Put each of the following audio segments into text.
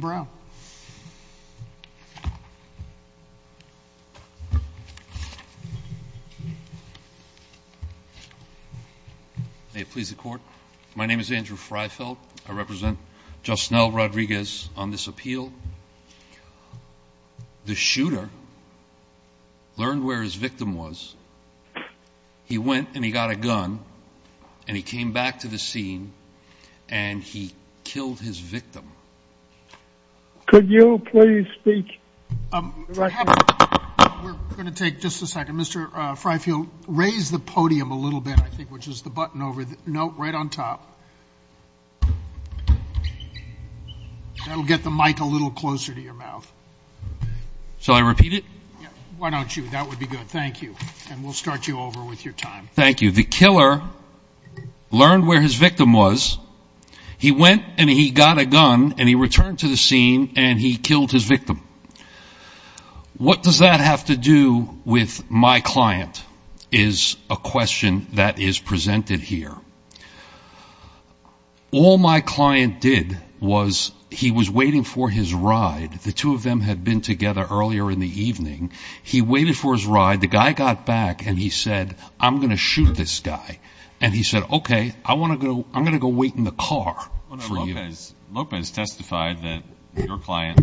Brown. May it please the Court. My name is Andrew Freifeld. I represent Josnel Rodriguez on this appeal. The shooter learned where his victim was. He went and he got a gun, and he came back to the scene, and he killed his victim. Could you please speak? We're going to take just a second. Mr. Freifeld, raise the podium a little bit, I think, which is the button over – no, right on top. That'll get the mic a little closer to your mouth. Shall I repeat it? Why don't you? That would be good. Thank you. And we'll start you over with your time. Thank you. The killer learned where his victim was. He went and he got a gun, and he returned to the scene, and he killed his victim. What does that have to do with my client is a question that is presented here. All my client did was he was waiting for his ride. The two of them had been together earlier in the evening. He waited for his ride. The guy got back, and he said, I'm going to shoot this guy. And he said, okay, I'm going to go wait in the car for you. Lopez testified that your client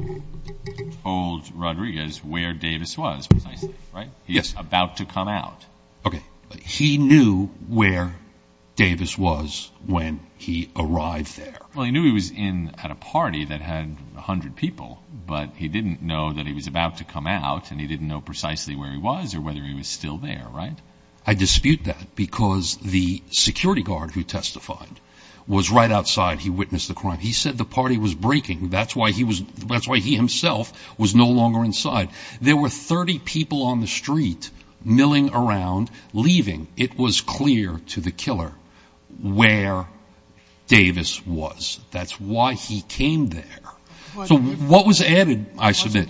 told Rodriguez where Davis was precisely, right? Yes. He was about to come out. Okay. He knew where Davis was when he arrived there. Well, he knew he was at a party that had 100 people, but he didn't know that he was about to come out, and he didn't know precisely where he was or whether he was still there, right? I dispute that because the security guard who testified was right outside. He witnessed the crime. He said the party was breaking. That's why he himself was no longer inside. There were 30 people on the street milling around, leaving. It was clear to the killer where Davis was. That's why he came there. So what was added, I submit?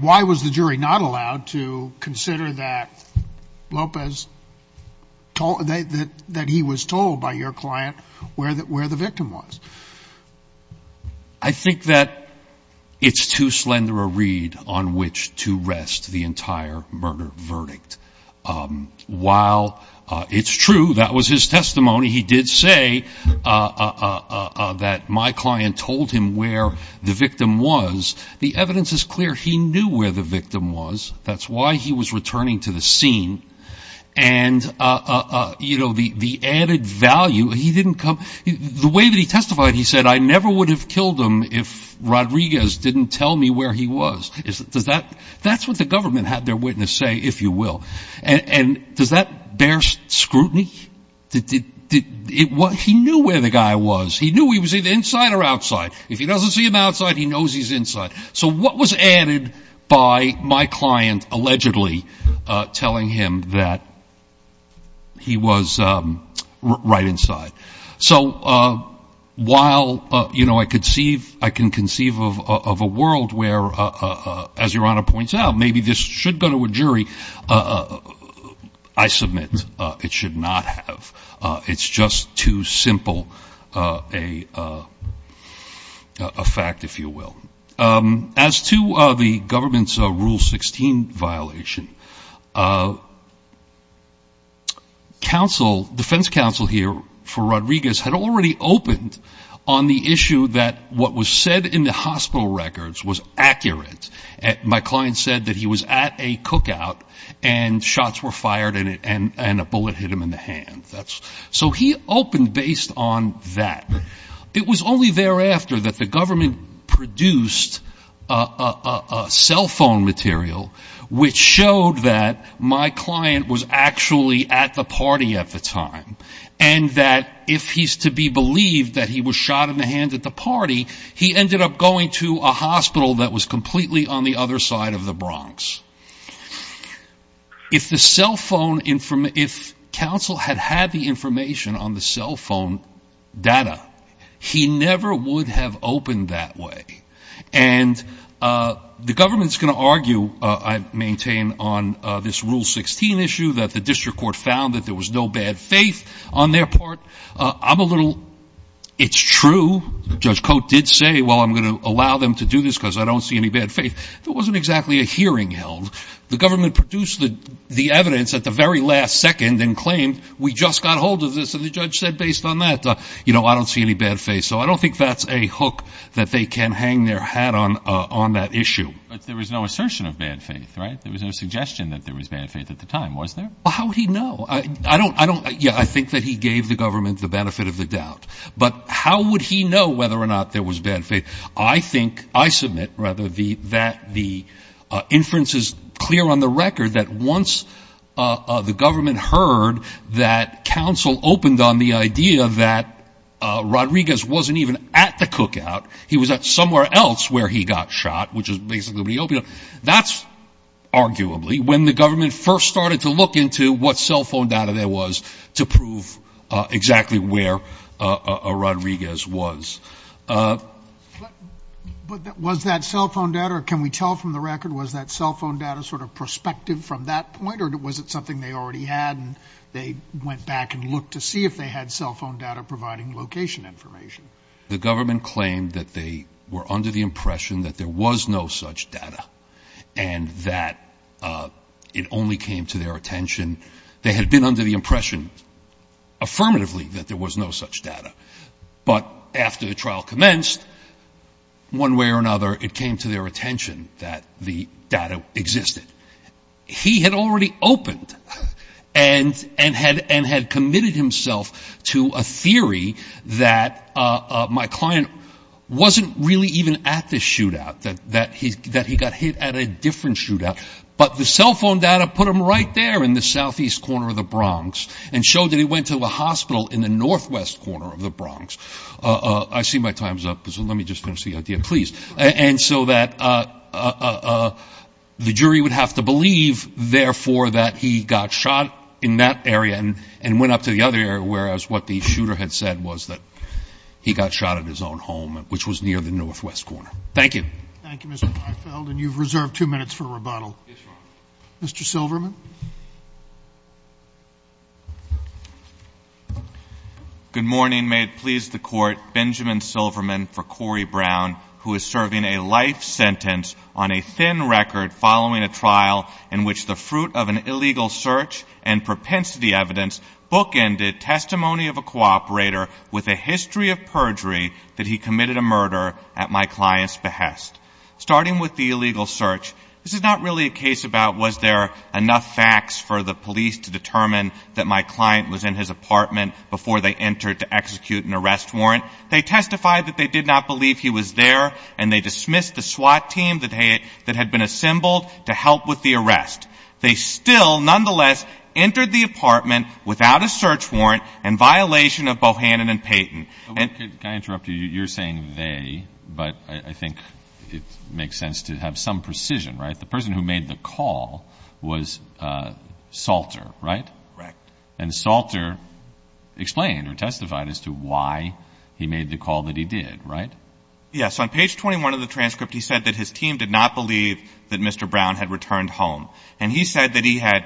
Why was the jury not allowed to consider that he was told by your client where the victim was? I think that it's too slender a read on which to rest the entire murder verdict. While it's true that was his testimony, he did say that my client told him where the victim was. The evidence is clear. He knew where the victim was. That's why he was returning to the scene. And, you know, the added value, he didn't come. The way that he testified, he said, I never would have killed him if Rodriguez didn't tell me where he was. That's what the government had their witness say, if you will. And does that bear scrutiny? He knew where the guy was. He knew he was either inside or outside. If he doesn't see him outside, he knows he's inside. So what was added by my client allegedly telling him that he was right inside? So while, you know, I can conceive of a world where, as Your Honor points out, maybe this should go to a jury, I submit it should not. It's just too simple a fact, if you will. As to the government's Rule 16 violation, defense counsel here for Rodriguez had already opened on the issue that what was said in the hospital records was accurate. My client said that he was at a cookout and shots were fired and a bullet hit him in the hand. So he opened based on that. It was only thereafter that the government produced a cell phone material which showed that my client was actually at the party at the time and that if he's to be believed that he was shot in the hand at the party, he ended up going to a hospital that was completely on the other side of the Bronx. If counsel had had the information on the cell phone data, he never would have opened that way. And the government's going to argue, I maintain, on this Rule 16 issue that the district court found that there was no bad faith on their part. I'm a little, it's true. Judge Coate did say, well, I'm going to allow them to do this because I don't see any bad faith. It wasn't exactly a hearing held. The government produced the evidence at the very last second and claimed we just got hold of this. And the judge said, based on that, you know, I don't see any bad faith. So I don't think that's a hook that they can hang their hat on on that issue. But there was no assertion of bad faith, right? There was no suggestion that there was bad faith at the time, was there? How would he know? I don't, yeah, I think that he gave the government the benefit of the doubt. But how would he know whether or not there was bad faith? I think, I submit, rather, that the inference is clear on the record that once the government heard that counsel opened on the idea that Rodriguez wasn't even at the cookout, he was at somewhere else where he got shot, which is basically what he opened on, that's arguably when the government first started to look into what cell phone data there was to prove exactly where Rodriguez was. But was that cell phone data, or can we tell from the record, was that cell phone data sort of prospective from that point, or was it something they already had and they went back and looked to see if they had cell phone data providing location information? The government claimed that they were under the impression that there was no such data and that it only came to their attention. They had been under the impression, affirmatively, that there was no such data. But after the trial commenced, one way or another, it came to their attention that the data existed. He had already opened and had committed himself to a theory that my client wasn't really even at the shootout, that he got hit at a different shootout. But the cell phone data put him right there in the southeast corner of the Bronx and showed that he went to a hospital in the northwest corner of the Bronx. I see my time's up, so let me just finish the idea, please. And so that the jury would have to believe, therefore, that he got shot in that area and went up to the other area, whereas what the shooter had said was that he got shot at his own home, which was near the northwest corner. Thank you. Thank you, Mr. Feifeld, and you've reserved two minutes for rebuttal. Yes, Your Honor. Mr. Silverman. Thank you. Good morning. May it please the Court, Benjamin Silverman for Corey Brown, who is serving a life sentence on a thin record following a trial in which the fruit of an illegal search and propensity evidence bookended testimony of a cooperator with a history of perjury that he committed a murder at my client's behest. Starting with the illegal search, this is not really a case about was there enough facts for the police to determine that my client was in his apartment before they entered to execute an arrest warrant. They testified that they did not believe he was there, and they dismissed the SWAT team that had been assembled to help with the arrest. They still, nonetheless, entered the apartment without a search warrant in violation of Bohannon and Payton. Can I interrupt you? You're saying they, but I think it makes sense to have some precision, right? The person who made the call was Salter, right? Correct. And Salter explained or testified as to why he made the call that he did, right? Yes. On page 21 of the transcript, he said that his team did not believe that Mr. Brown had returned home, and he said that he had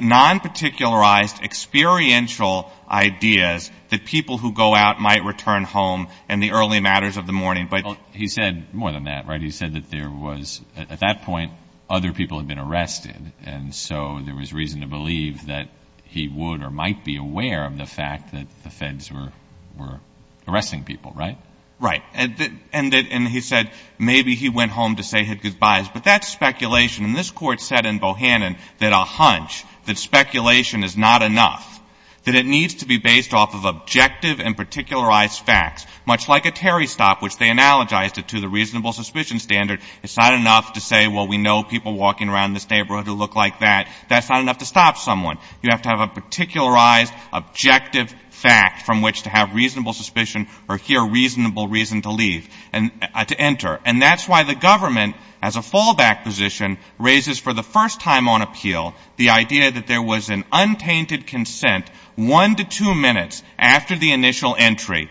non-particularized experiential ideas that people who go out might return home in the early matters of the morning. He said more than that, right? He said that there was, at that point, other people had been arrested, and so there was reason to believe that he would or might be aware of the fact that the feds were arresting people, right? Right. And he said maybe he went home to say his goodbyes, but that's speculation. And this Court said in Bohannon that a hunch, that speculation is not enough, that it needs to be based off of objective and particularized facts, much like a Terry stop, which they analogized it to the reasonable suspicion standard. It's not enough to say, well, we know people walking around this neighborhood who look like that. That's not enough to stop someone. You have to have a particularized, objective fact from which to have reasonable suspicion or hear reasonable reason to leave, to enter. And that's why the government, as a fallback position, raises for the first time on appeal the idea that there was an untainted consent one to two minutes after the initial entry.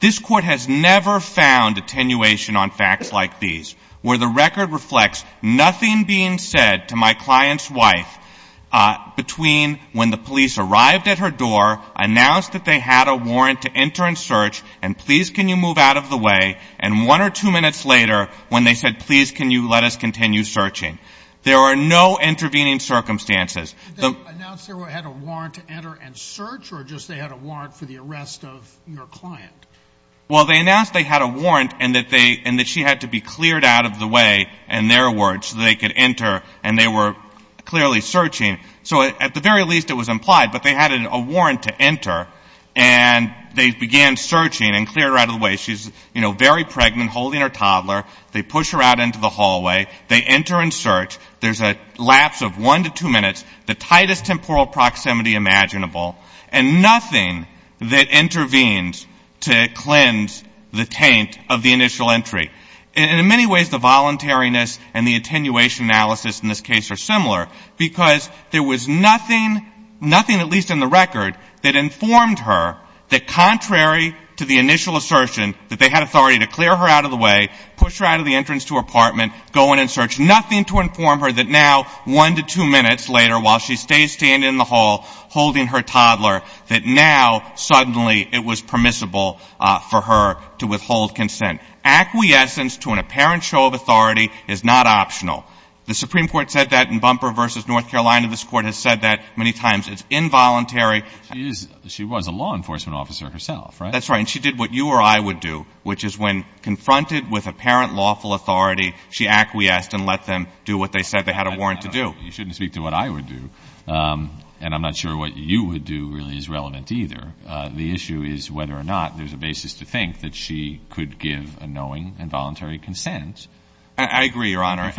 This Court has never found attenuation on facts like these, where the record reflects nothing being said to my client's wife between when the police arrived at her door, announced that they had a warrant to enter and search, and please can you move out of the way, and one or two minutes later when they said please can you let us continue searching. There are no intervening circumstances. Did they announce they had a warrant to enter and search, or just they had a warrant for the arrest of your client? Well, they announced they had a warrant and that she had to be cleared out of the way, in their words, so they could enter and they were clearly searching. So at the very least it was implied, but they had a warrant to enter, and they began searching and cleared her out of the way. She's, you know, very pregnant, holding her toddler. They push her out into the hallway. They enter and search. There's a lapse of one to two minutes, the tightest temporal proximity imaginable, and nothing that intervenes to cleanse the taint of the initial entry. And in many ways the voluntariness and the attenuation analysis in this case are similar, because there was nothing, nothing at least in the record, that informed her that contrary to the initial assertion that they had authority to clear her out of the way, push her out of the entrance to her apartment, go in and search, nothing to inform her that now one to two minutes later, while she stays standing in the hall holding her toddler, that now suddenly it was permissible for her to withhold consent. Acquiescence to an apparent show of authority is not optional. The Supreme Court said that in Bumper v. North Carolina. This Court has said that many times. It's involuntary. She was a law enforcement officer herself, right? That's right, and she did what you or I would do, which is when confronted with apparent lawful authority, she acquiesced and let them do what they said they had a warrant to do. You shouldn't speak to what I would do, and I'm not sure what you would do really is relevant either. The issue is whether or not there's a basis to think that she could give a knowing and voluntary consent. I agree, Your Honor.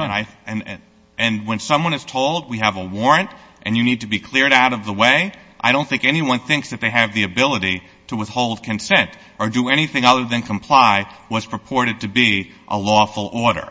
And when someone is told we have a warrant and you need to be cleared out of the way, I don't think anyone thinks that they have the ability to withhold consent or do anything other than comply what's purported to be a lawful order.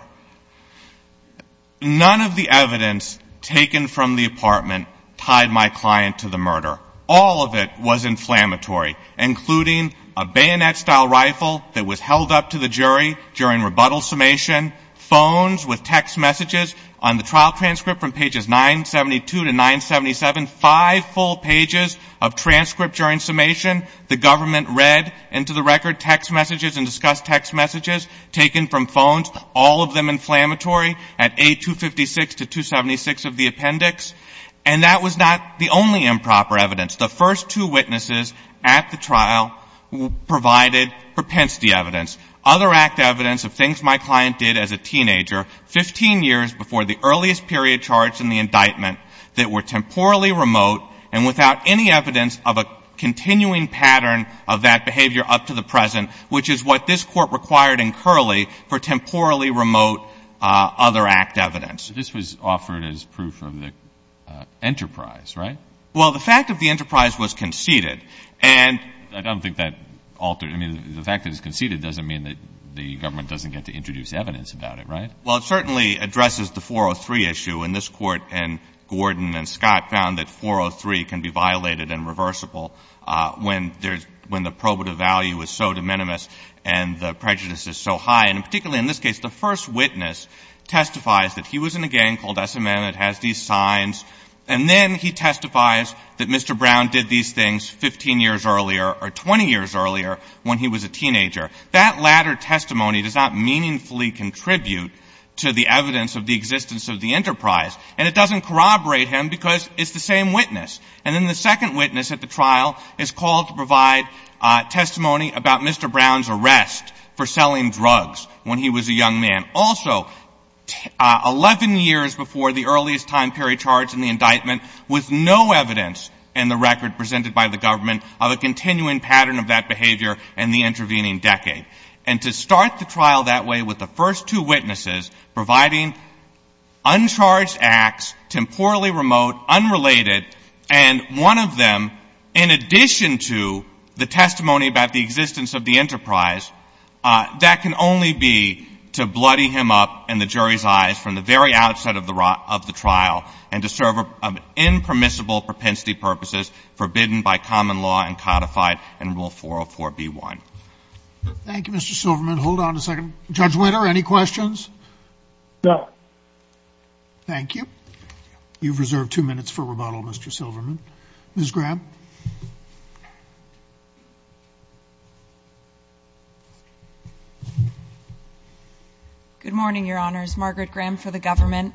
None of the evidence taken from the apartment tied my client to the murder. All of it was inflammatory, including a bayonet-style rifle that was held up to the jury during rebuttal summation, phones with text messages on the trial transcript from pages 972 to 977, five full pages of transcript during summation. The government read into the record text messages and discussed text messages taken from phones, all of them inflammatory, at A256 to 276 of the appendix. And that was not the only improper evidence. The first two witnesses at the trial provided propensity evidence. Other act evidence of things my client did as a teenager 15 years before the earliest period charged in the indictment that were temporally remote and without any evidence of a continuing pattern of that behavior up to the present, which is what this Court required in Curley for temporally remote other act evidence. This was offered as proof of the enterprise, right? Well, the fact of the enterprise was conceded. I don't think that altered. I mean, the fact that it was conceded doesn't mean that the government doesn't get to introduce evidence about it, right? Well, it certainly addresses the 403 issue, and this Court and Gordon and Scott found that 403 can be violated and reversible when the probative value is so de minimis and the prejudice is so high, and particularly in this case, the first witness testifies that he was in a gang called SMM that has these signs, and then he testifies that Mr. Brown did these things 15 years earlier or 20 years earlier when he was a teenager. That latter testimony does not meaningfully contribute to the evidence of the existence of the enterprise, and it doesn't corroborate him because it's the same witness. And then the second witness at the trial is called to provide testimony about Mr. Brown's arrest for selling drugs when he was a young man. Also, 11 years before the earliest time period charged in the indictment with no evidence in the record presented by the government of a continuing pattern of that behavior in the intervening decade. And to start the trial that way with the first two witnesses providing uncharged acts, temporally remote, unrelated, and one of them, in addition to the testimony about the existence of the enterprise, that can only be to bloody him up in the jury's eyes from the very outset of the trial and to serve an impermissible propensity purposes forbidden by common law and codified in Rule 404B1. Thank you, Mr. Silverman. Hold on a second. Judge Winter, any questions? No. Thank you. You've reserved two minutes for rebuttal, Mr. Silverman. Ms. Graham? Good morning, Your Honors. Margaret Graham for the government.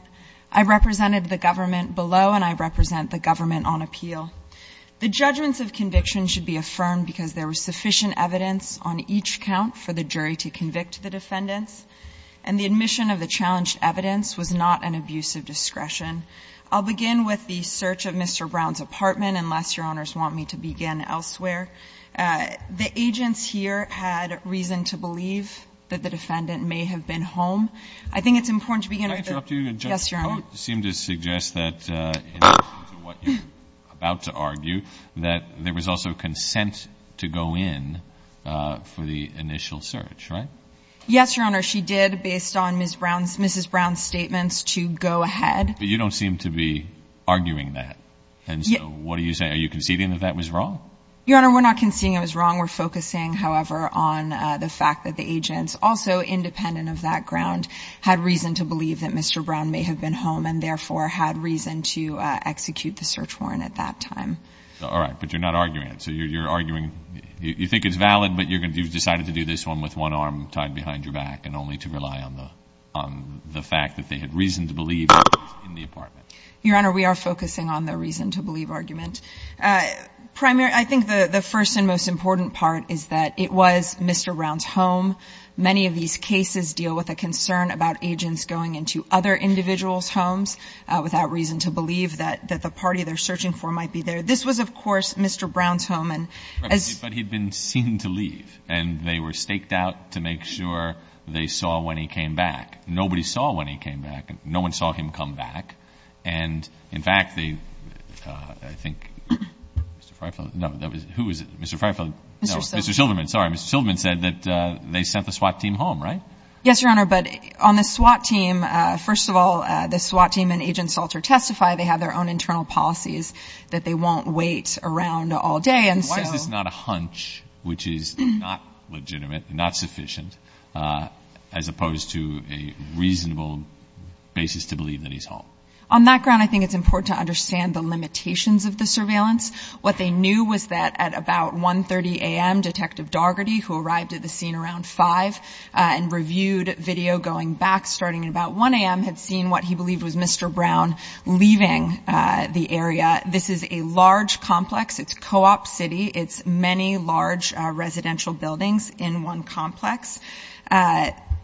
I represented the government below and I represent the government on appeal. The judgments of conviction should be affirmed because there was sufficient evidence on each count for the jury to convict the defendants and the admission of the challenged evidence was not an abuse of discretion. I'll begin with the search of Mr. Brown's apartment unless Your Honors want me to begin elsewhere. The agents here had reason to believe that the defendant may have been home. I think it's important to begin with the ---- Can I interrupt you, Judge? Yes, Your Honor. You seem to suggest that in addition to what you're about to argue that there was also consent to go in for the initial search, right? Yes, Your Honor. She did based on Mrs. Brown's statements to go ahead. But you don't seem to be arguing that. And so what do you say? Are you conceding that that was wrong? Your Honor, we're not conceding it was wrong. We're focusing, however, on the fact that the agents, also independent of that ground, had reason to believe that Mr. Brown may have been home and therefore had reason to execute the search warrant at that time. All right. But you're not arguing it. So you're arguing you think it's valid but you've decided to do this one with one arm tied behind your back and only to rely on the fact that they had reason to believe he was in the apartment. Your Honor, we are focusing on the reason to believe argument. I think the first and most important part is that it was Mr. Brown's home. Many of these cases deal with a concern about agents going into other individuals' homes without reason to believe that the party they're searching for might be there. This was, of course, Mr. Brown's home. But he'd been seen to leave, and they were staked out to make sure they saw when he came back. Nobody saw when he came back. No one saw him come back. And, in fact, they, I think, Mr. Fryfield, no, who was it? Mr. Fryfield. No, Mr. Silverman. Sorry. Mr. Silverman said that they sent the SWAT team home, right? Yes, Your Honor. But on the SWAT team, first of all, the SWAT team and Agent Salter testify they have their own internal policies that they won't wait around all day. Why is this not a hunch, which is not legitimate, not sufficient, as opposed to a reasonable basis to believe that he's home? On that ground, I think it's important to understand the limitations of the surveillance. What they knew was that at about 1.30 a.m., Detective Daugherty, who arrived at the scene around 5 and reviewed video going back starting at about 1 a.m., had seen what he believed was Mr. Brown leaving the area. This is a large complex. It's a co-op city. It's many large residential buildings in one complex.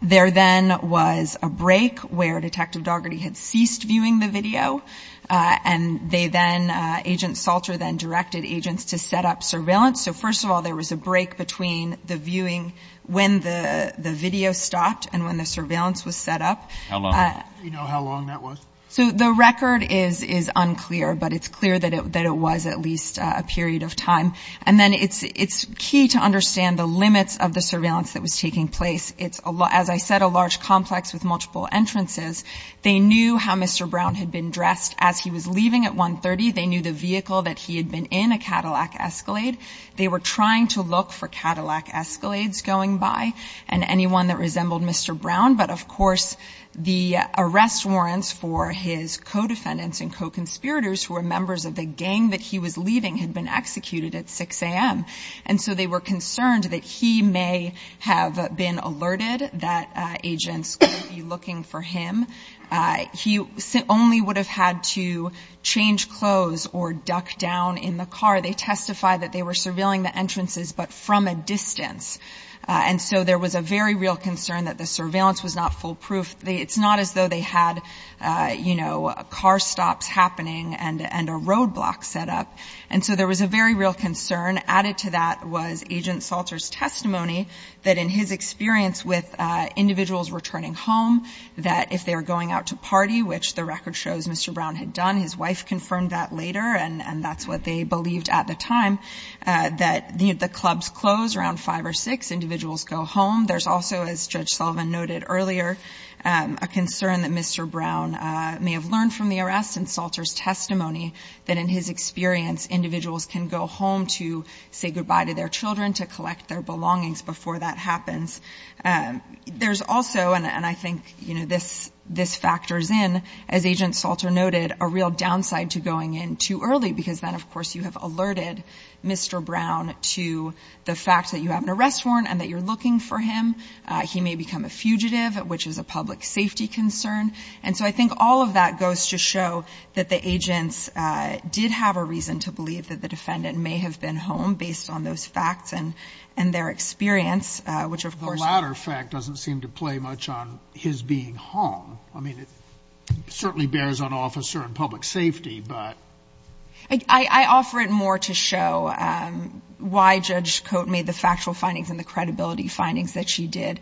There then was a break where Detective Daugherty had ceased viewing the video, and they then, Agent Salter then directed agents to set up surveillance. So, first of all, there was a break between the viewing when the video stopped and when the surveillance was set up. How long? Do you know how long that was? So the record is unclear, but it's clear that it was at least a period of time. And then it's key to understand the limits of the surveillance that was taking place. As I said, a large complex with multiple entrances. They knew how Mr. Brown had been dressed as he was leaving at 1.30. They knew the vehicle that he had been in, a Cadillac Escalade. They were trying to look for Cadillac Escalades going by and anyone that resembled Mr. Brown. But, of course, the arrest warrants for his co-defendants and co-conspirators who were members of the gang that he was leaving had been executed at 6 a.m. And so they were concerned that he may have been alerted that agents could be looking for him. He only would have had to change clothes or duck down in the car. They testified that they were surveilling the entrances but from a distance. And so there was a very real concern that the surveillance was not foolproof. It's not as though they had, you know, car stops happening and a roadblock set up. And so there was a very real concern. Added to that was Agent Salter's testimony that in his experience with individuals returning home, that if they were going out to party, which the record shows Mr. Brown had done, his wife confirmed that later, and that's what they believed at the time, that the clubs close around 5 or 6, individuals go home. There's also, as Judge Sullivan noted earlier, a concern that Mr. Brown may have learned from the arrest and Salter's testimony that in his experience individuals can go home to say goodbye to their children, to collect their belongings before that happens. There's also, and I think this factors in, as Agent Salter noted, a real downside to going in too early because then, of course, you have alerted Mr. Brown to the fact that you have an arrest warrant and that you're looking for him. He may become a fugitive, which is a public safety concern. And so I think all of that goes to show that the agents did have a reason to believe that the defendant may have been home based on those facts and their experience, which, of course, The latter fact doesn't seem to play much on his being home. I mean, it certainly bears on officer and public safety, but. I offer it more to show why Judge Cote made the factual findings and the credibility findings that she did.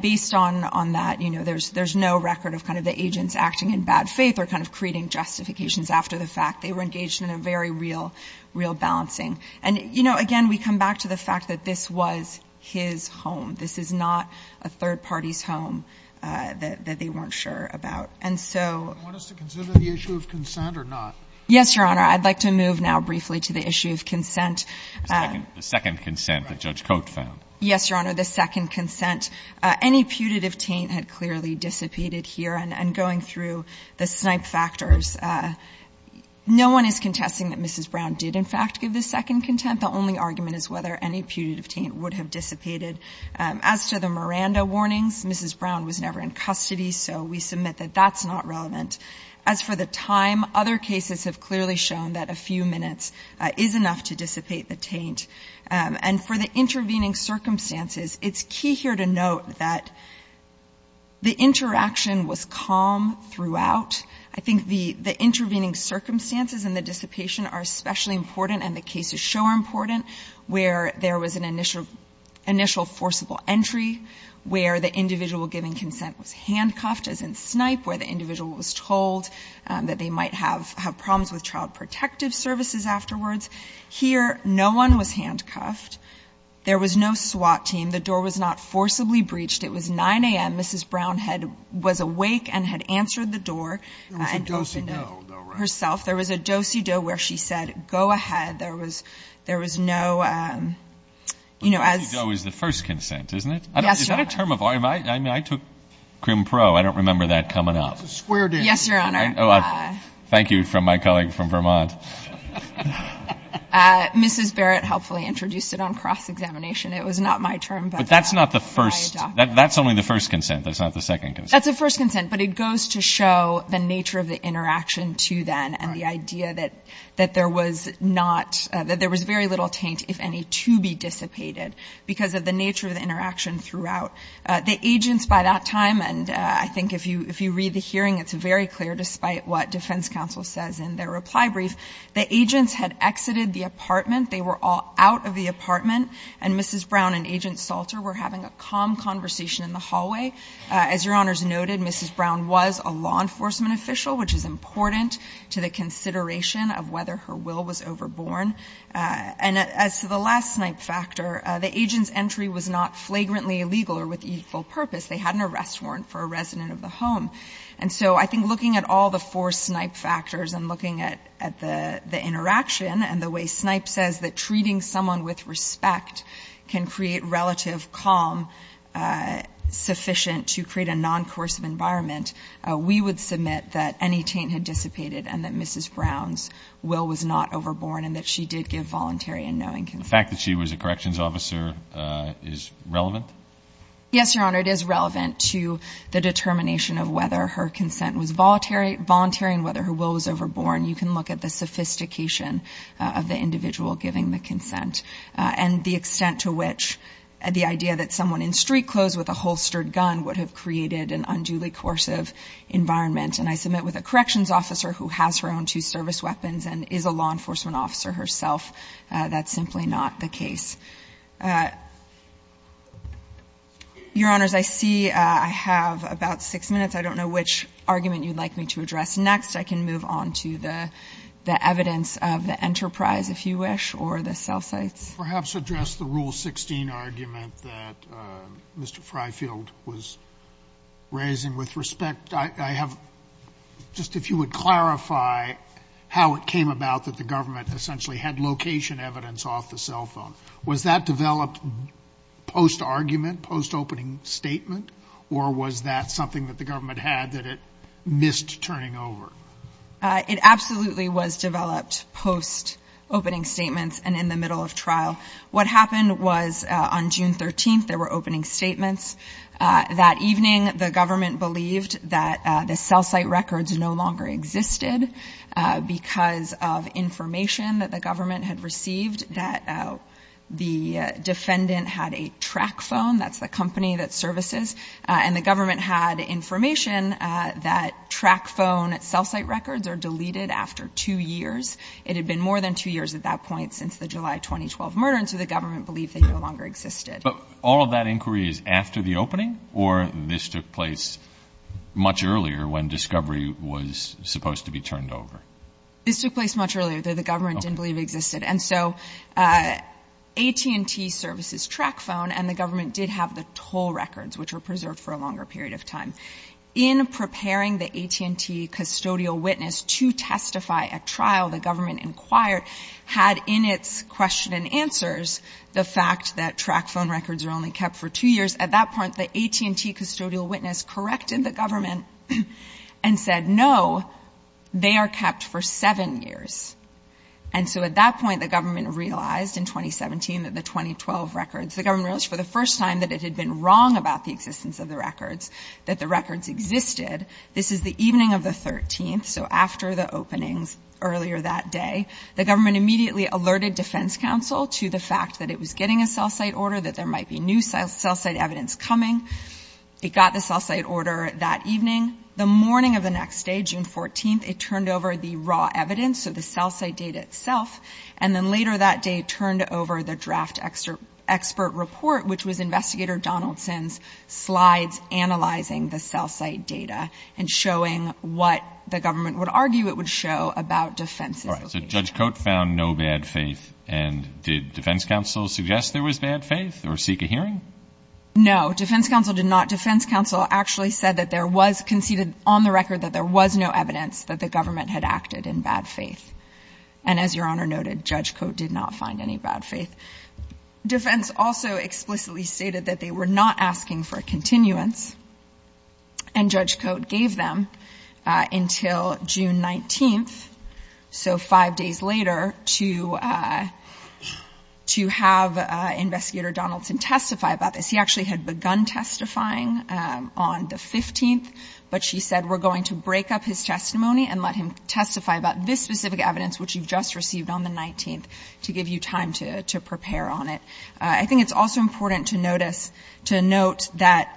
Based on that, you know, there's no record of kind of the agents acting in bad faith or kind of creating justifications after the fact. They were engaged in a very real balancing. And, you know, again, we come back to the fact that this was his home. This is not a third party's home that they weren't sure about. And so. Do you want us to consider the issue of consent or not? Yes, Your Honor. I'd like to move now briefly to the issue of consent. The second consent that Judge Cote found. Yes, Your Honor. The second consent. Any putative taint had clearly dissipated here. And going through the snipe factors, no one is contesting that Mrs. Brown did, in fact, give the second content. The only argument is whether any putative taint would have dissipated. As to the Miranda warnings, Mrs. Brown was never in custody, so we submit that that's not relevant. As for the time, other cases have clearly shown that a few minutes is enough to dissipate the taint. And for the intervening circumstances, it's key here to note that the interaction was calm throughout. I think the intervening circumstances and the dissipation are especially important and the cases show are important, where there was an initial forcible entry, where the individual giving consent was handcuffed, as in snipe, where the individual was told that they might have problems with child protective services afterwards. Here, no one was handcuffed. There was no SWAT team. The door was not forcibly breached. It was 9 a.m. Mrs. Brown was awake and had answered the door. There was a do-si-do, though, right? There was no, you know, as — The do-si-do is the first consent, isn't it? Yes, Your Honor. Is that a term of — I mean, I took crim pro. I don't remember that coming up. Yes, Your Honor. Thank you from my colleague from Vermont. Mrs. Barrett helpfully introduced it on cross-examination. It was not my term, but I adopted it. But that's not the first — that's only the first consent. That's not the second consent. That's the first consent, but it goes to show the nature of the interaction to then and the idea that there was not — that there was very little taint, if any, to be dissipated because of the nature of the interaction throughout. The agents by that time, and I think if you read the hearing, it's very clear, despite what defense counsel says in their reply brief, the agents had exited the apartment. They were all out of the apartment, and Mrs. Brown and Agent Salter were having a calm conversation in the hallway. As Your Honors noted, Mrs. Brown was a law enforcement official, which is important to the consideration of whether her will was overborne. And as to the last Snipe factor, the agent's entry was not flagrantly illegal or with equal purpose. They had an arrest warrant for a resident of the home. And so I think looking at all the four Snipe factors and looking at the interaction and the way Snipe says that treating someone with respect can create relative calm sufficient to create a non-coercive environment, we would submit that any taint had dissipated and that Mrs. Brown's will was not overborne and that she did give voluntary and knowing consent. The fact that she was a corrections officer is relevant? Yes, Your Honor, it is relevant to the determination of whether her consent was voluntary and whether her will was overborne. You can look at the sophistication of the individual giving the consent and the extent to which the idea that someone in street clothes with a holstered gun would have created an unduly coercive environment. And I submit with a corrections officer who has her own two service weapons and is a law enforcement officer herself, that's simply not the case. Your Honors, I see I have about six minutes. I don't know which argument you'd like me to address next. I can move on to the evidence of the enterprise, if you wish, or the cell sites. Perhaps address the Rule 16 argument that Mr. Freyfield was raising. With respect, I have, just if you would clarify how it came about that the government essentially had location evidence off the cell phone. Was that developed post-argument, post-opening statement, or was that something that the government had that it missed turning over? It absolutely was developed post-opening statements and in the middle of trial. What happened was on June 13th there were opening statements. That evening the government believed that the cell site records no longer existed because of information that the government had received that the defendant had a track phone. That's the company that services. And the government had information that track phone cell site records are deleted after two years. It had been more than two years at that point since the July 2012 murder, and so the government believed they no longer existed. But all of that inquiry is after the opening, or this took place much earlier when discovery was supposed to be turned over? This took place much earlier, though the government didn't believe it existed. And so AT&T services track phone and the government did have the toll records, which were preserved for a longer period of time. In preparing the AT&T custodial witness to testify at trial, the government inquired, had in its question and answers, the fact that track phone records are only kept for two years. At that point the AT&T custodial witness corrected the government and said, no, they are kept for seven years. And so at that point the government realized in 2017 that the 2012 records, the government realized for the first time that it had been wrong about the existence of the records, that the records existed. This is the evening of the 13th, so after the openings earlier that day, the government immediately alerted defense counsel to the fact that it was getting a cell site order, that there might be new cell site evidence coming. It got the cell site order that evening. The morning of the next day, June 14th, it turned over the raw evidence, so the cell site data itself, and then later that day turned over the draft expert report, which was Investigator Donaldson's slides analyzing the cell site data and showing what the government would argue it would show about defenses. All right. So Judge Coate found no bad faith, and did defense counsel suggest there was bad faith or seek a hearing? No. Defense counsel did not. Defense counsel actually said that there was conceded on the record that there was no evidence that the government had acted in bad faith. And as Your Honor noted, Judge Coate did not find any bad faith. Defense also explicitly stated that they were not asking for a continuance, and Judge Coate gave them until June 19th, so five days later, to have Investigator Donaldson testify about this. He actually had begun testifying on the 15th, but she said we're going to break up his testimony and let him testify about this specific evidence, which you've just received on the 19th, to give you time to prepare on it. I think it's also important to note that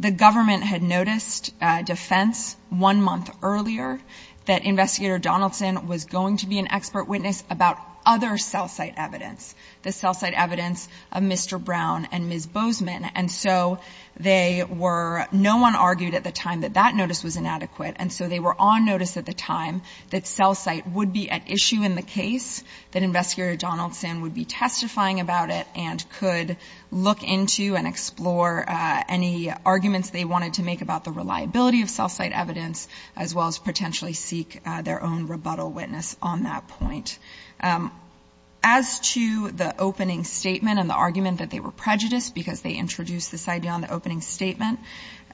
the government had noticed defense one month earlier, that Investigator Donaldson was going to be an expert witness about other cell site evidence, the cell site evidence of Mr. Brown and Ms. Bozeman, and so they were no one argued at the time that that notice was inadequate, and so they were on notice at the time that cell site would be at issue in the case, that Investigator Donaldson would be testifying about it and could look into and explore any arguments they wanted to make about the reliability of cell site evidence, as well as potentially seek their own rebuttal witness on that point. As to the opening statement and the argument that they were prejudiced because they introduced this idea on the opening statement,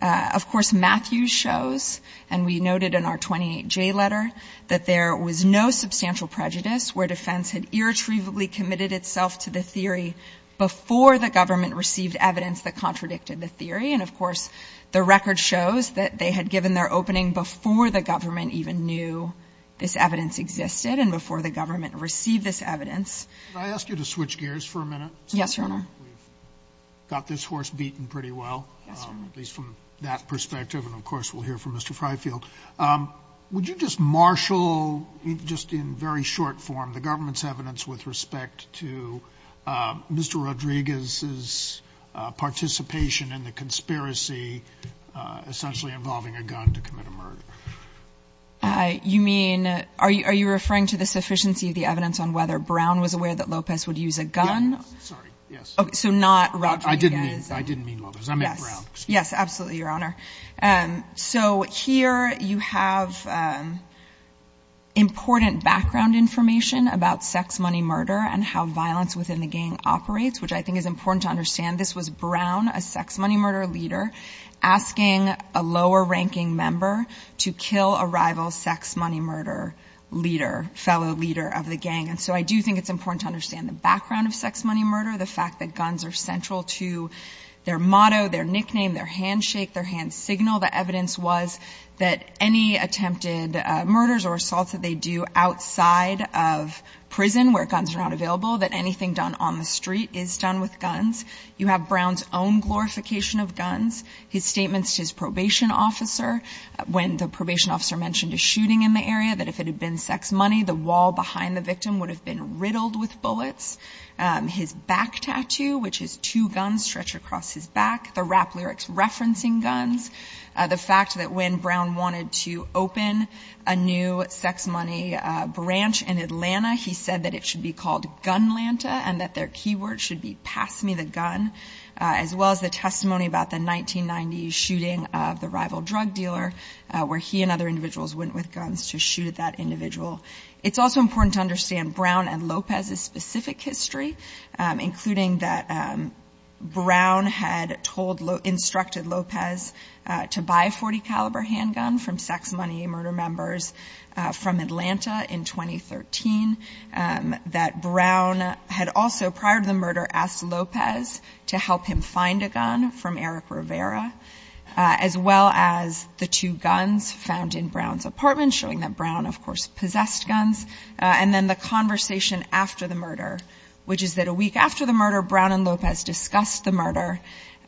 of course, Matthew shows, and we noted in our 28J letter, that there was no substantial prejudice where defense had irretrievably committed itself to the theory before the government received evidence that contradicted the theory, and of course, the record shows that they had given their opening before the government even knew this evidence existed and before the government received this evidence. Could I ask you to switch gears for a minute? Yes, Your Honor. We've got this horse beaten pretty well, at least from that perspective, and of course we'll hear from Mr. Freifield. Would you just marshal, just in very short form, the government's evidence with respect to Mr. Rodriguez's participation in the conspiracy essentially involving a gun to commit a murder? You mean, are you referring to the sufficiency of the evidence on whether Brown was aware that Lopez would use a gun? Yes, sorry, yes. So not Rodriguez. I didn't mean Lopez, I meant Brown. Yes, absolutely, Your Honor. So here you have important background information about sex money murder and how violence within the gang operates, which I think is important to understand. This was Brown, a sex money murder leader, asking a lower-ranking member to kill a rival sex money murder leader, fellow leader of the gang. And so I do think it's important to understand the background of sex money murder, the fact that guns are central to their motto, their nickname, their handshake, their hand signal. The evidence was that any attempted murders or assaults that they do outside of prison where guns are not available, that anything done on the street is done with guns. You have Brown's own glorification of guns, his statements to his probation officer when the probation officer mentioned a shooting in the area, that if it had been sex money, the wall behind the victim would have been riddled with bullets. His back tattoo, which is two guns stretched across his back. The rap lyrics referencing guns. The fact that when Brown wanted to open a new sex money branch in Atlanta, he said that it should be called Gunlanta and that their keyword should be pass me the gun, as well as the testimony about the 1990 shooting of the rival drug dealer where he and other individuals went with guns to shoot at that individual. It's also important to understand Brown and Lopez's specific history, including that Brown had told, instructed Lopez to buy a .40 caliber handgun from sex money murder members from Atlanta in 2013. That Brown had also, prior to the murder, asked Lopez to help him find a gun from Eric Rivera, as well as the two guns found in Brown's apartment, showing that Brown, of course, possessed guns. And then the conversation after the murder, which is that a week after the murder, Brown and Lopez discussed the murder.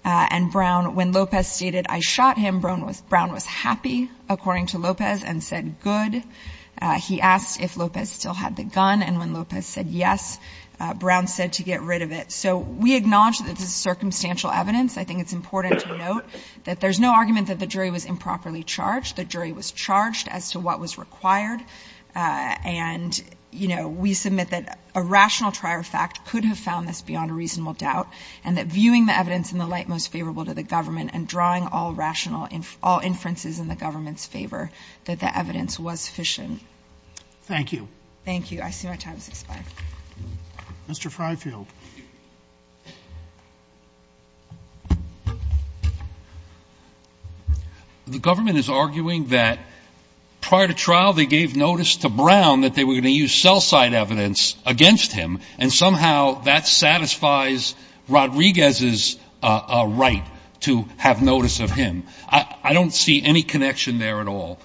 And Brown, when Lopez stated, I shot him, Brown was happy, according to Lopez, and said, good. He asked if Lopez still had the gun. And when Lopez said yes, Brown said to get rid of it. So we acknowledge that this is circumstantial evidence. I think it's important to note that there's no argument that the jury was improperly charged. The jury was charged as to what was required. And, you know, we submit that a rational trier of fact could have found this beyond a reasonable doubt, and that viewing the evidence in the light most favorable to the government and drawing all inferences in the government's favor, that the evidence was sufficient. Thank you. Thank you. I see my time has expired. Mr. Freyfield. The government is arguing that prior to trial they gave notice to Brown that they were going to use cell site evidence against him, and somehow that satisfies Rodriguez's right to have notice of him. I don't see any connection there at all.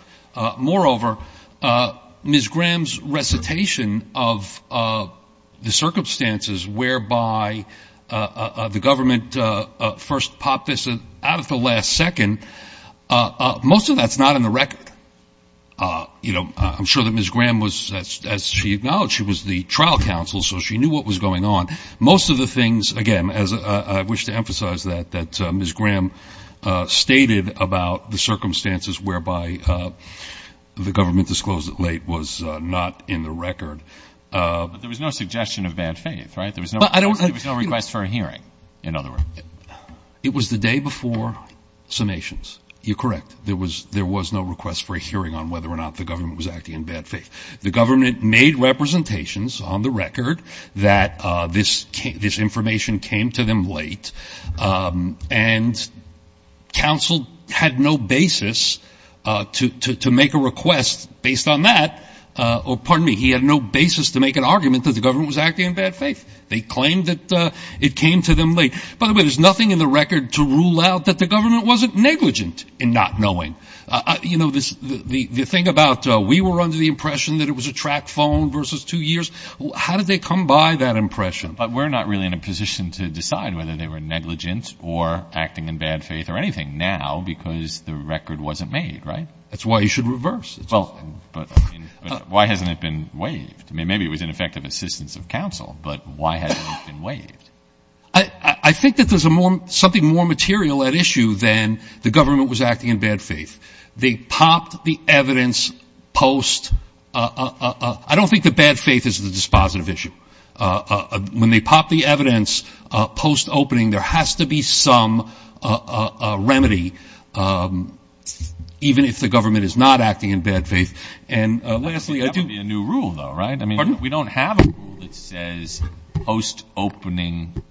Moreover, Ms. Graham's recitation of the circumstances whereby the government first popped this out at the last second, most of that's not in the record. You know, I'm sure that Ms. Graham was, as she acknowledged, she was the trial counsel, so she knew what was going on. Most of the things, again, as I wish to emphasize that, that Ms. Graham stated about the circumstances whereby the government disclosed it late was not in the record. But there was no suggestion of bad faith, right? There was no request for a hearing, in other words. It was the day before summations. You're correct. There was no request for a hearing on whether or not the government was acting in bad faith. The government made representations on the record that this information came to them late, and counsel had no basis to make a request based on that. Pardon me. He had no basis to make an argument that the government was acting in bad faith. They claimed that it came to them late. By the way, there's nothing in the record to rule out that the government wasn't negligent in not knowing. You know, the thing about we were under the impression that it was a track phone versus two years, how did they come by that impression? But we're not really in a position to decide whether they were negligent or acting in bad faith or anything now because the record wasn't made, right? That's why you should reverse. But why hasn't it been waived? I mean, maybe it was ineffective assistance of counsel, but why hasn't it been waived? I think that there's something more material at issue than the government was acting in bad faith. They popped the evidence post. I don't think that bad faith is a dispositive issue. When they pop the evidence post-opening, there has to be some remedy, even if the government is not acting in bad faith. And lastly, I do need a new rule, though, right? I mean, we don't have a rule that says post-opening,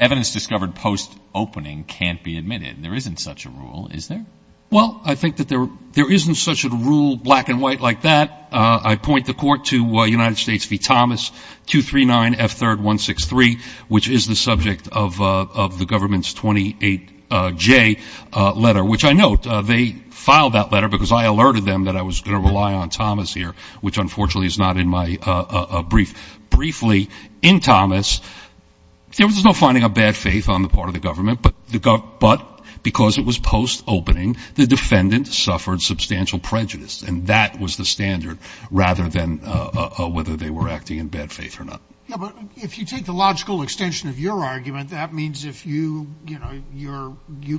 evidence discovered post-opening can't be admitted. There isn't such a rule, is there? Well, I think that there isn't such a rule, black and white, like that. I point the court to United States v. Thomas, 239F3163, which is the subject of the government's 28J letter, which I note they filed that letter because I alerted them that I was going to rely on Thomas here, which unfortunately is not in my brief. Briefly, in Thomas, there was no finding of bad faith on the part of the government, but because it was post-opening, the defendant suffered substantial prejudice, and that was the standard rather than whether they were acting in bad faith or not. Yeah, but if you take the logical extension of your argument, that means if you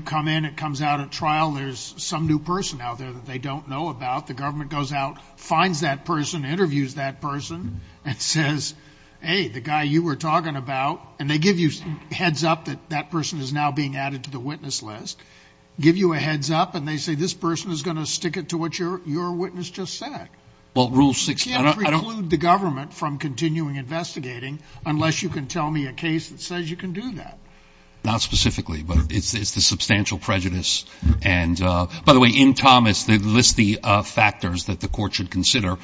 come in, it comes out at trial, there's some new person out there that they don't know about. The government goes out, finds that person, interviews that person, and says, hey, the guy you were talking about, and they give you a heads-up that that person is now being added to the witness list, give you a heads-up, and they say this person is going to stick it to what your witness just said. You can't preclude the government from continuing investigating unless you can tell me a case that says you can do that. Not specifically, but it's the substantial prejudice. By the way, in Thomas, they list the factors that the court should consider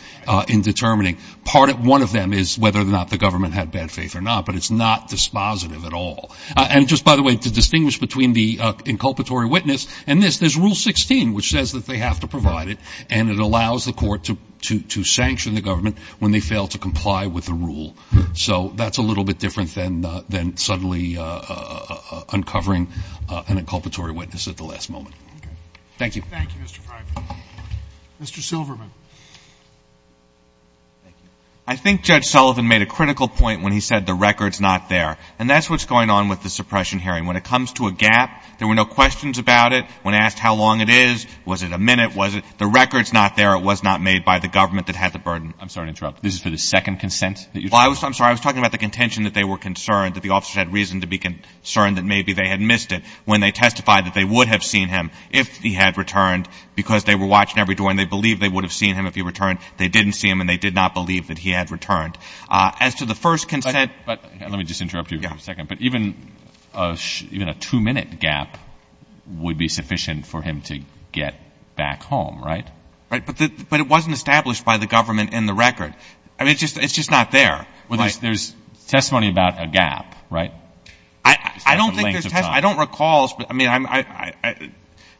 in determining. Part of one of them is whether or not the government had bad faith or not, but it's not dispositive at all. And just by the way, to distinguish between the inculpatory witness and this, there's Rule 16, which says that they have to provide it, and it allows the court to sanction the government when they fail to comply with the rule. So that's a little bit different than suddenly uncovering an inculpatory witness at the last moment. Thank you. Thank you, Mr. Frye. Mr. Silverman. I think Judge Sullivan made a critical point when he said the record's not there, and that's what's going on with the suppression hearing. When it comes to a gap, there were no questions about it. When asked how long it is, was it a minute, was it the record's not there, it was not made by the government that had the burden. I'm sorry to interrupt. This is for the second consent that you're talking about? I'm sorry. I was talking about the contention that they were concerned, that the officers had reason to be concerned that maybe they had missed it when they testified that they would have seen him if he had returned because they were watching every door and they believed they would have seen him if he returned. They didn't see him and they did not believe that he had returned. As to the first consent. Let me just interrupt you for a second. But even a two-minute gap would be sufficient for him to get back home, right? But it wasn't established by the government in the record. I mean, it's just not there. Well, there's testimony about a gap, right? I don't think there's testimony. I don't recall. I mean,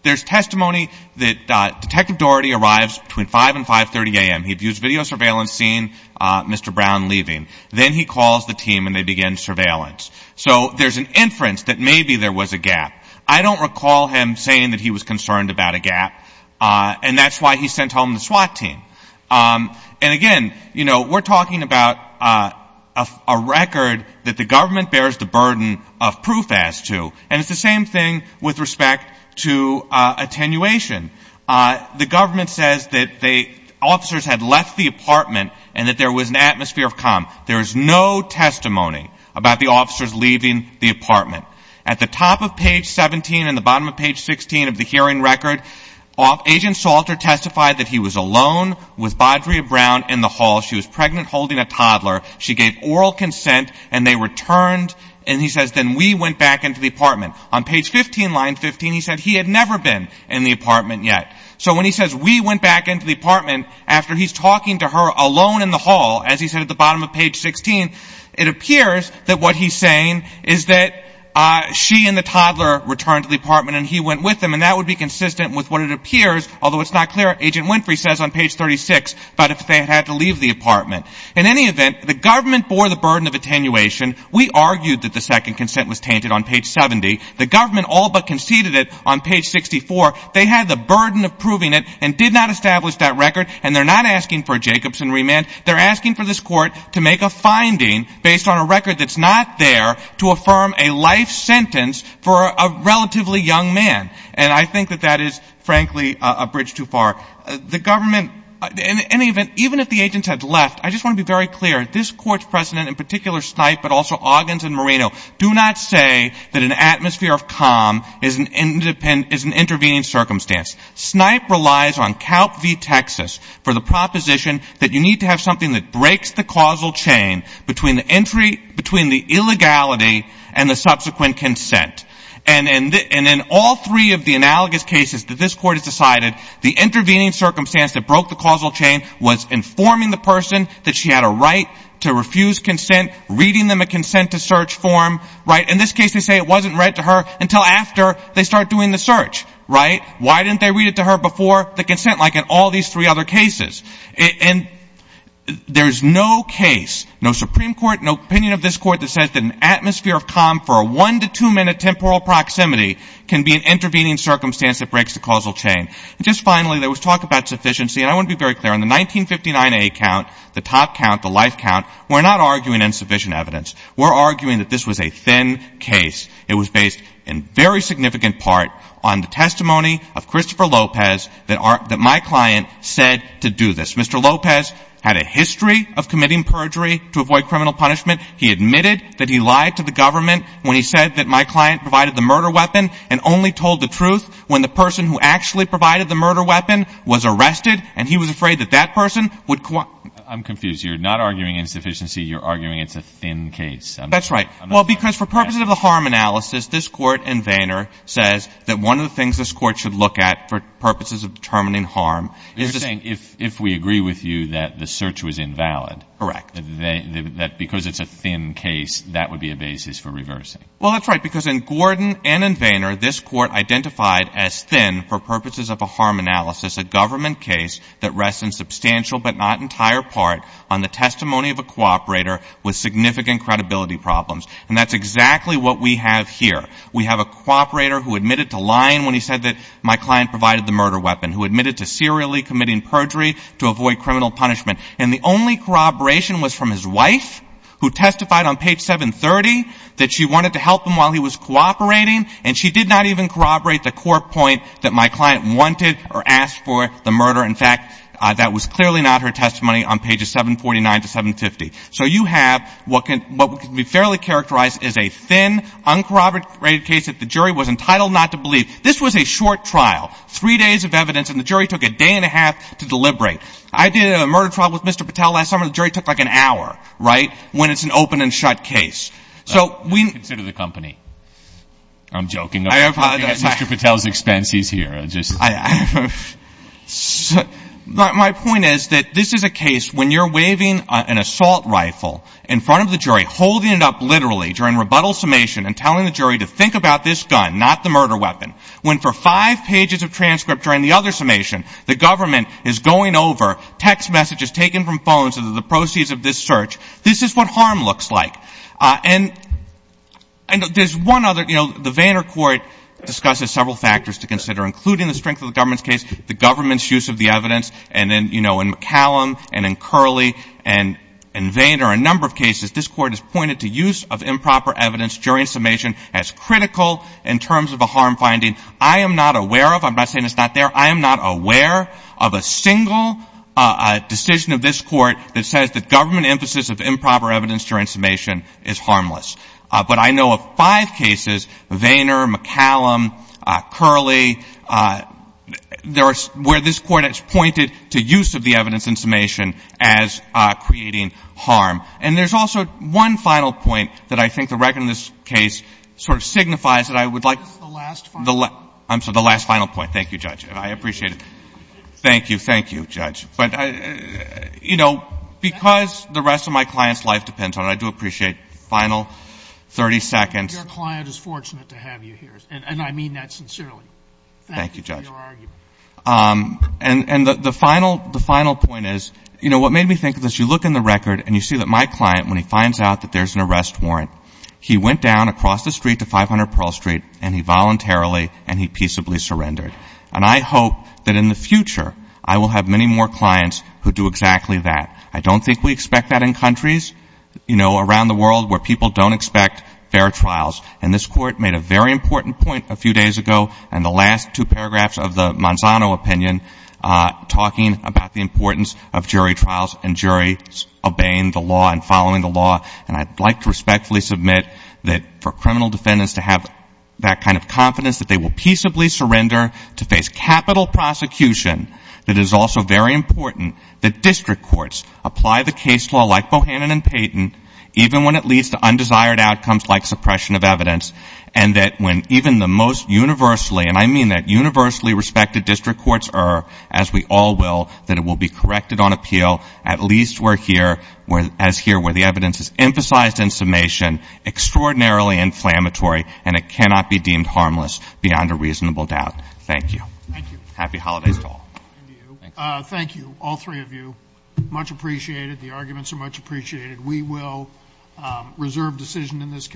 there's testimony that Detective Doherty arrives between 5 and 5.30 a.m. He views video surveillance seeing Mr. Brown leaving. Then he calls the team and they begin surveillance. So there's an inference that maybe there was a gap. I don't recall him saying that he was concerned about a gap, and that's why he sent home the SWAT team. And, again, you know, we're talking about a record that the government bears the burden of proof as to. And it's the same thing with respect to attenuation. The government says that the officers had left the apartment and that there was an atmosphere of calm. There is no testimony about the officers leaving the apartment. At the top of page 17 and the bottom of page 16 of the hearing record, Agent Salter testified that he was alone with Badria Brown in the hall. She was pregnant holding a toddler. She gave oral consent, and they returned. And he says, then we went back into the apartment. On page 15, line 15, he said he had never been in the apartment yet. So when he says, we went back into the apartment, after he's talking to her alone in the hall, as he said at the bottom of page 16, it appears that what he's saying is that she and the toddler returned to the apartment and he went with them, and that would be consistent with what it appears, although it's not clear, Agent Winfrey says on page 36, about if they had to leave the apartment. In any event, the government bore the burden of attenuation. We argued that the second consent was tainted on page 70. The government all but conceded it on page 64. They had the burden of proving it and did not establish that record, and they're not asking for a Jacobson remand. They're asking for this court to make a finding, based on a record that's not there, to affirm a life sentence for a relatively young man. And I think that that is, frankly, a bridge too far. The government, in any event, even if the agents had left, I just want to be very clear. This court's precedent, in particular Snipe, but also Oggins and Marino, do not say that an atmosphere of calm is an intervening circumstance. Snipe relies on Calp v. Texas for the proposition that you need to have something that breaks the causal chain between the entry, between the illegality and the subsequent consent. And in all three of the analogous cases that this court has decided, the intervening circumstance that broke the causal chain was informing the person that she had a right to refuse consent, reading them a consent to search form. In this case, they say it wasn't read to her until after they start doing the search. Right? Why didn't they read it to her before the consent, like in all these three other cases? And there's no case, no Supreme Court, no opinion of this court, that says that an atmosphere of calm for a one- to two-minute temporal proximity can be an intervening circumstance that breaks the causal chain. And just finally, there was talk about sufficiency, and I want to be very clear. On the 1959A count, the top count, the life count, we're not arguing insufficient evidence. We're arguing that this was a thin case. It was based in very significant part on the testimony of Christopher Lopez that my client said to do this. Mr. Lopez had a history of committing perjury to avoid criminal punishment. He admitted that he lied to the government when he said that my client provided the murder weapon and only told the truth when the person who actually provided the murder weapon was arrested, and he was afraid that that person would co- I'm confused. You're not arguing insufficiency. You're arguing it's a thin case. That's right. Well, because for purposes of the harm analysis, this court and Vayner says that one of the things this court should look at for purposes of determining harm is this. You're saying if we agree with you that the search was invalid. Correct. That because it's a thin case, that would be a basis for reversing. Well, that's right, because in Gordon and in Vayner, this court identified as thin for purposes of a harm analysis a government case that rests in substantial but not entire part on the testimony of a cooperator with significant credibility problems, and that's exactly what we have here. We have a cooperator who admitted to lying when he said that my client provided the murder weapon, who admitted to serially committing perjury to avoid criminal punishment, and the only corroboration was from his wife, who testified on page 730 that she wanted to help him while he was cooperating, and she did not even corroborate the court point that my client wanted or asked for the murder. In fact, that was clearly not her testimony on pages 749 to 750. So you have what can be fairly characterized as a thin, uncorroborated case that the jury was entitled not to believe. This was a short trial, three days of evidence, and the jury took a day and a half to deliberate. I did a murder trial with Mr. Patel last summer. The jury took like an hour, right, when it's an open and shut case. Consider the company. I'm joking. Mr. Patel's expense, he's here. My point is that this is a case when you're waving an assault rifle in front of the jury, holding it up literally during rebuttal summation and telling the jury to think about this gun, not the murder weapon, when for five pages of transcript during the other summation, the government is going over text messages taken from phones of the proceeds of this search, this is what harm looks like. And there's one other, you know, the Vayner court discusses several factors to consider, including the strength of the government's case, the government's use of the evidence, and then, you know, in McCallum and in Curley and in Vayner, a number of cases, this court has pointed to use of improper evidence during summation as critical in terms of a harm finding. I am not aware of, I'm not saying it's not there, I am not aware of a single decision of this court that says that the government emphasis of improper evidence during summation is harmless. But I know of five cases, Vayner, McCallum, Curley, where this court has pointed to use of the evidence in summation as creating harm. And there's also one final point that I think the record in this case sort of signifies that I would like... That's the last final point. I'm sorry, the last final point. Thank you, Judge. I appreciate it. Thank you. Thank you, Judge. But, you know, because the rest of my client's life depends on it, I do appreciate the final 30 seconds. Your client is fortunate to have you here, and I mean that sincerely. Thank you for your argument. Thank you, Judge. And the final point is, you know, what made me think of this, you look in the record and you see that my client, when he finds out that there's an arrest warrant, he went down across the street to 500 Pearl Street and he voluntarily and he peaceably surrendered. And I hope that in the future I will have many more clients who do exactly that. I don't think we expect that in countries, you know, around the world where people don't expect fair trials. And this court made a very important point a few days ago in the last two paragraphs of the Manzano opinion, talking about the importance of jury trials and juries obeying the law and following the law. And I'd like to respectfully submit that for criminal defendants to have that kind of confidence that they will peaceably surrender to face capital prosecution, that it is also very important that district courts apply the case law like Bohannon and Payton, even when it leads to undesired outcomes like suppression of evidence, and that when even the most universally, and I mean that, universally respected district courts are, as we all will, that it will be corrected on appeal, at least we're here, as here where the evidence is emphasized in summation, extraordinarily inflammatory, and it cannot be deemed harmless beyond a reasonable doubt. Thank you. Thank you. Happy holidays to all. Thank you. All three of you, much appreciated. The arguments are much appreciated. We will reserve decision in this case.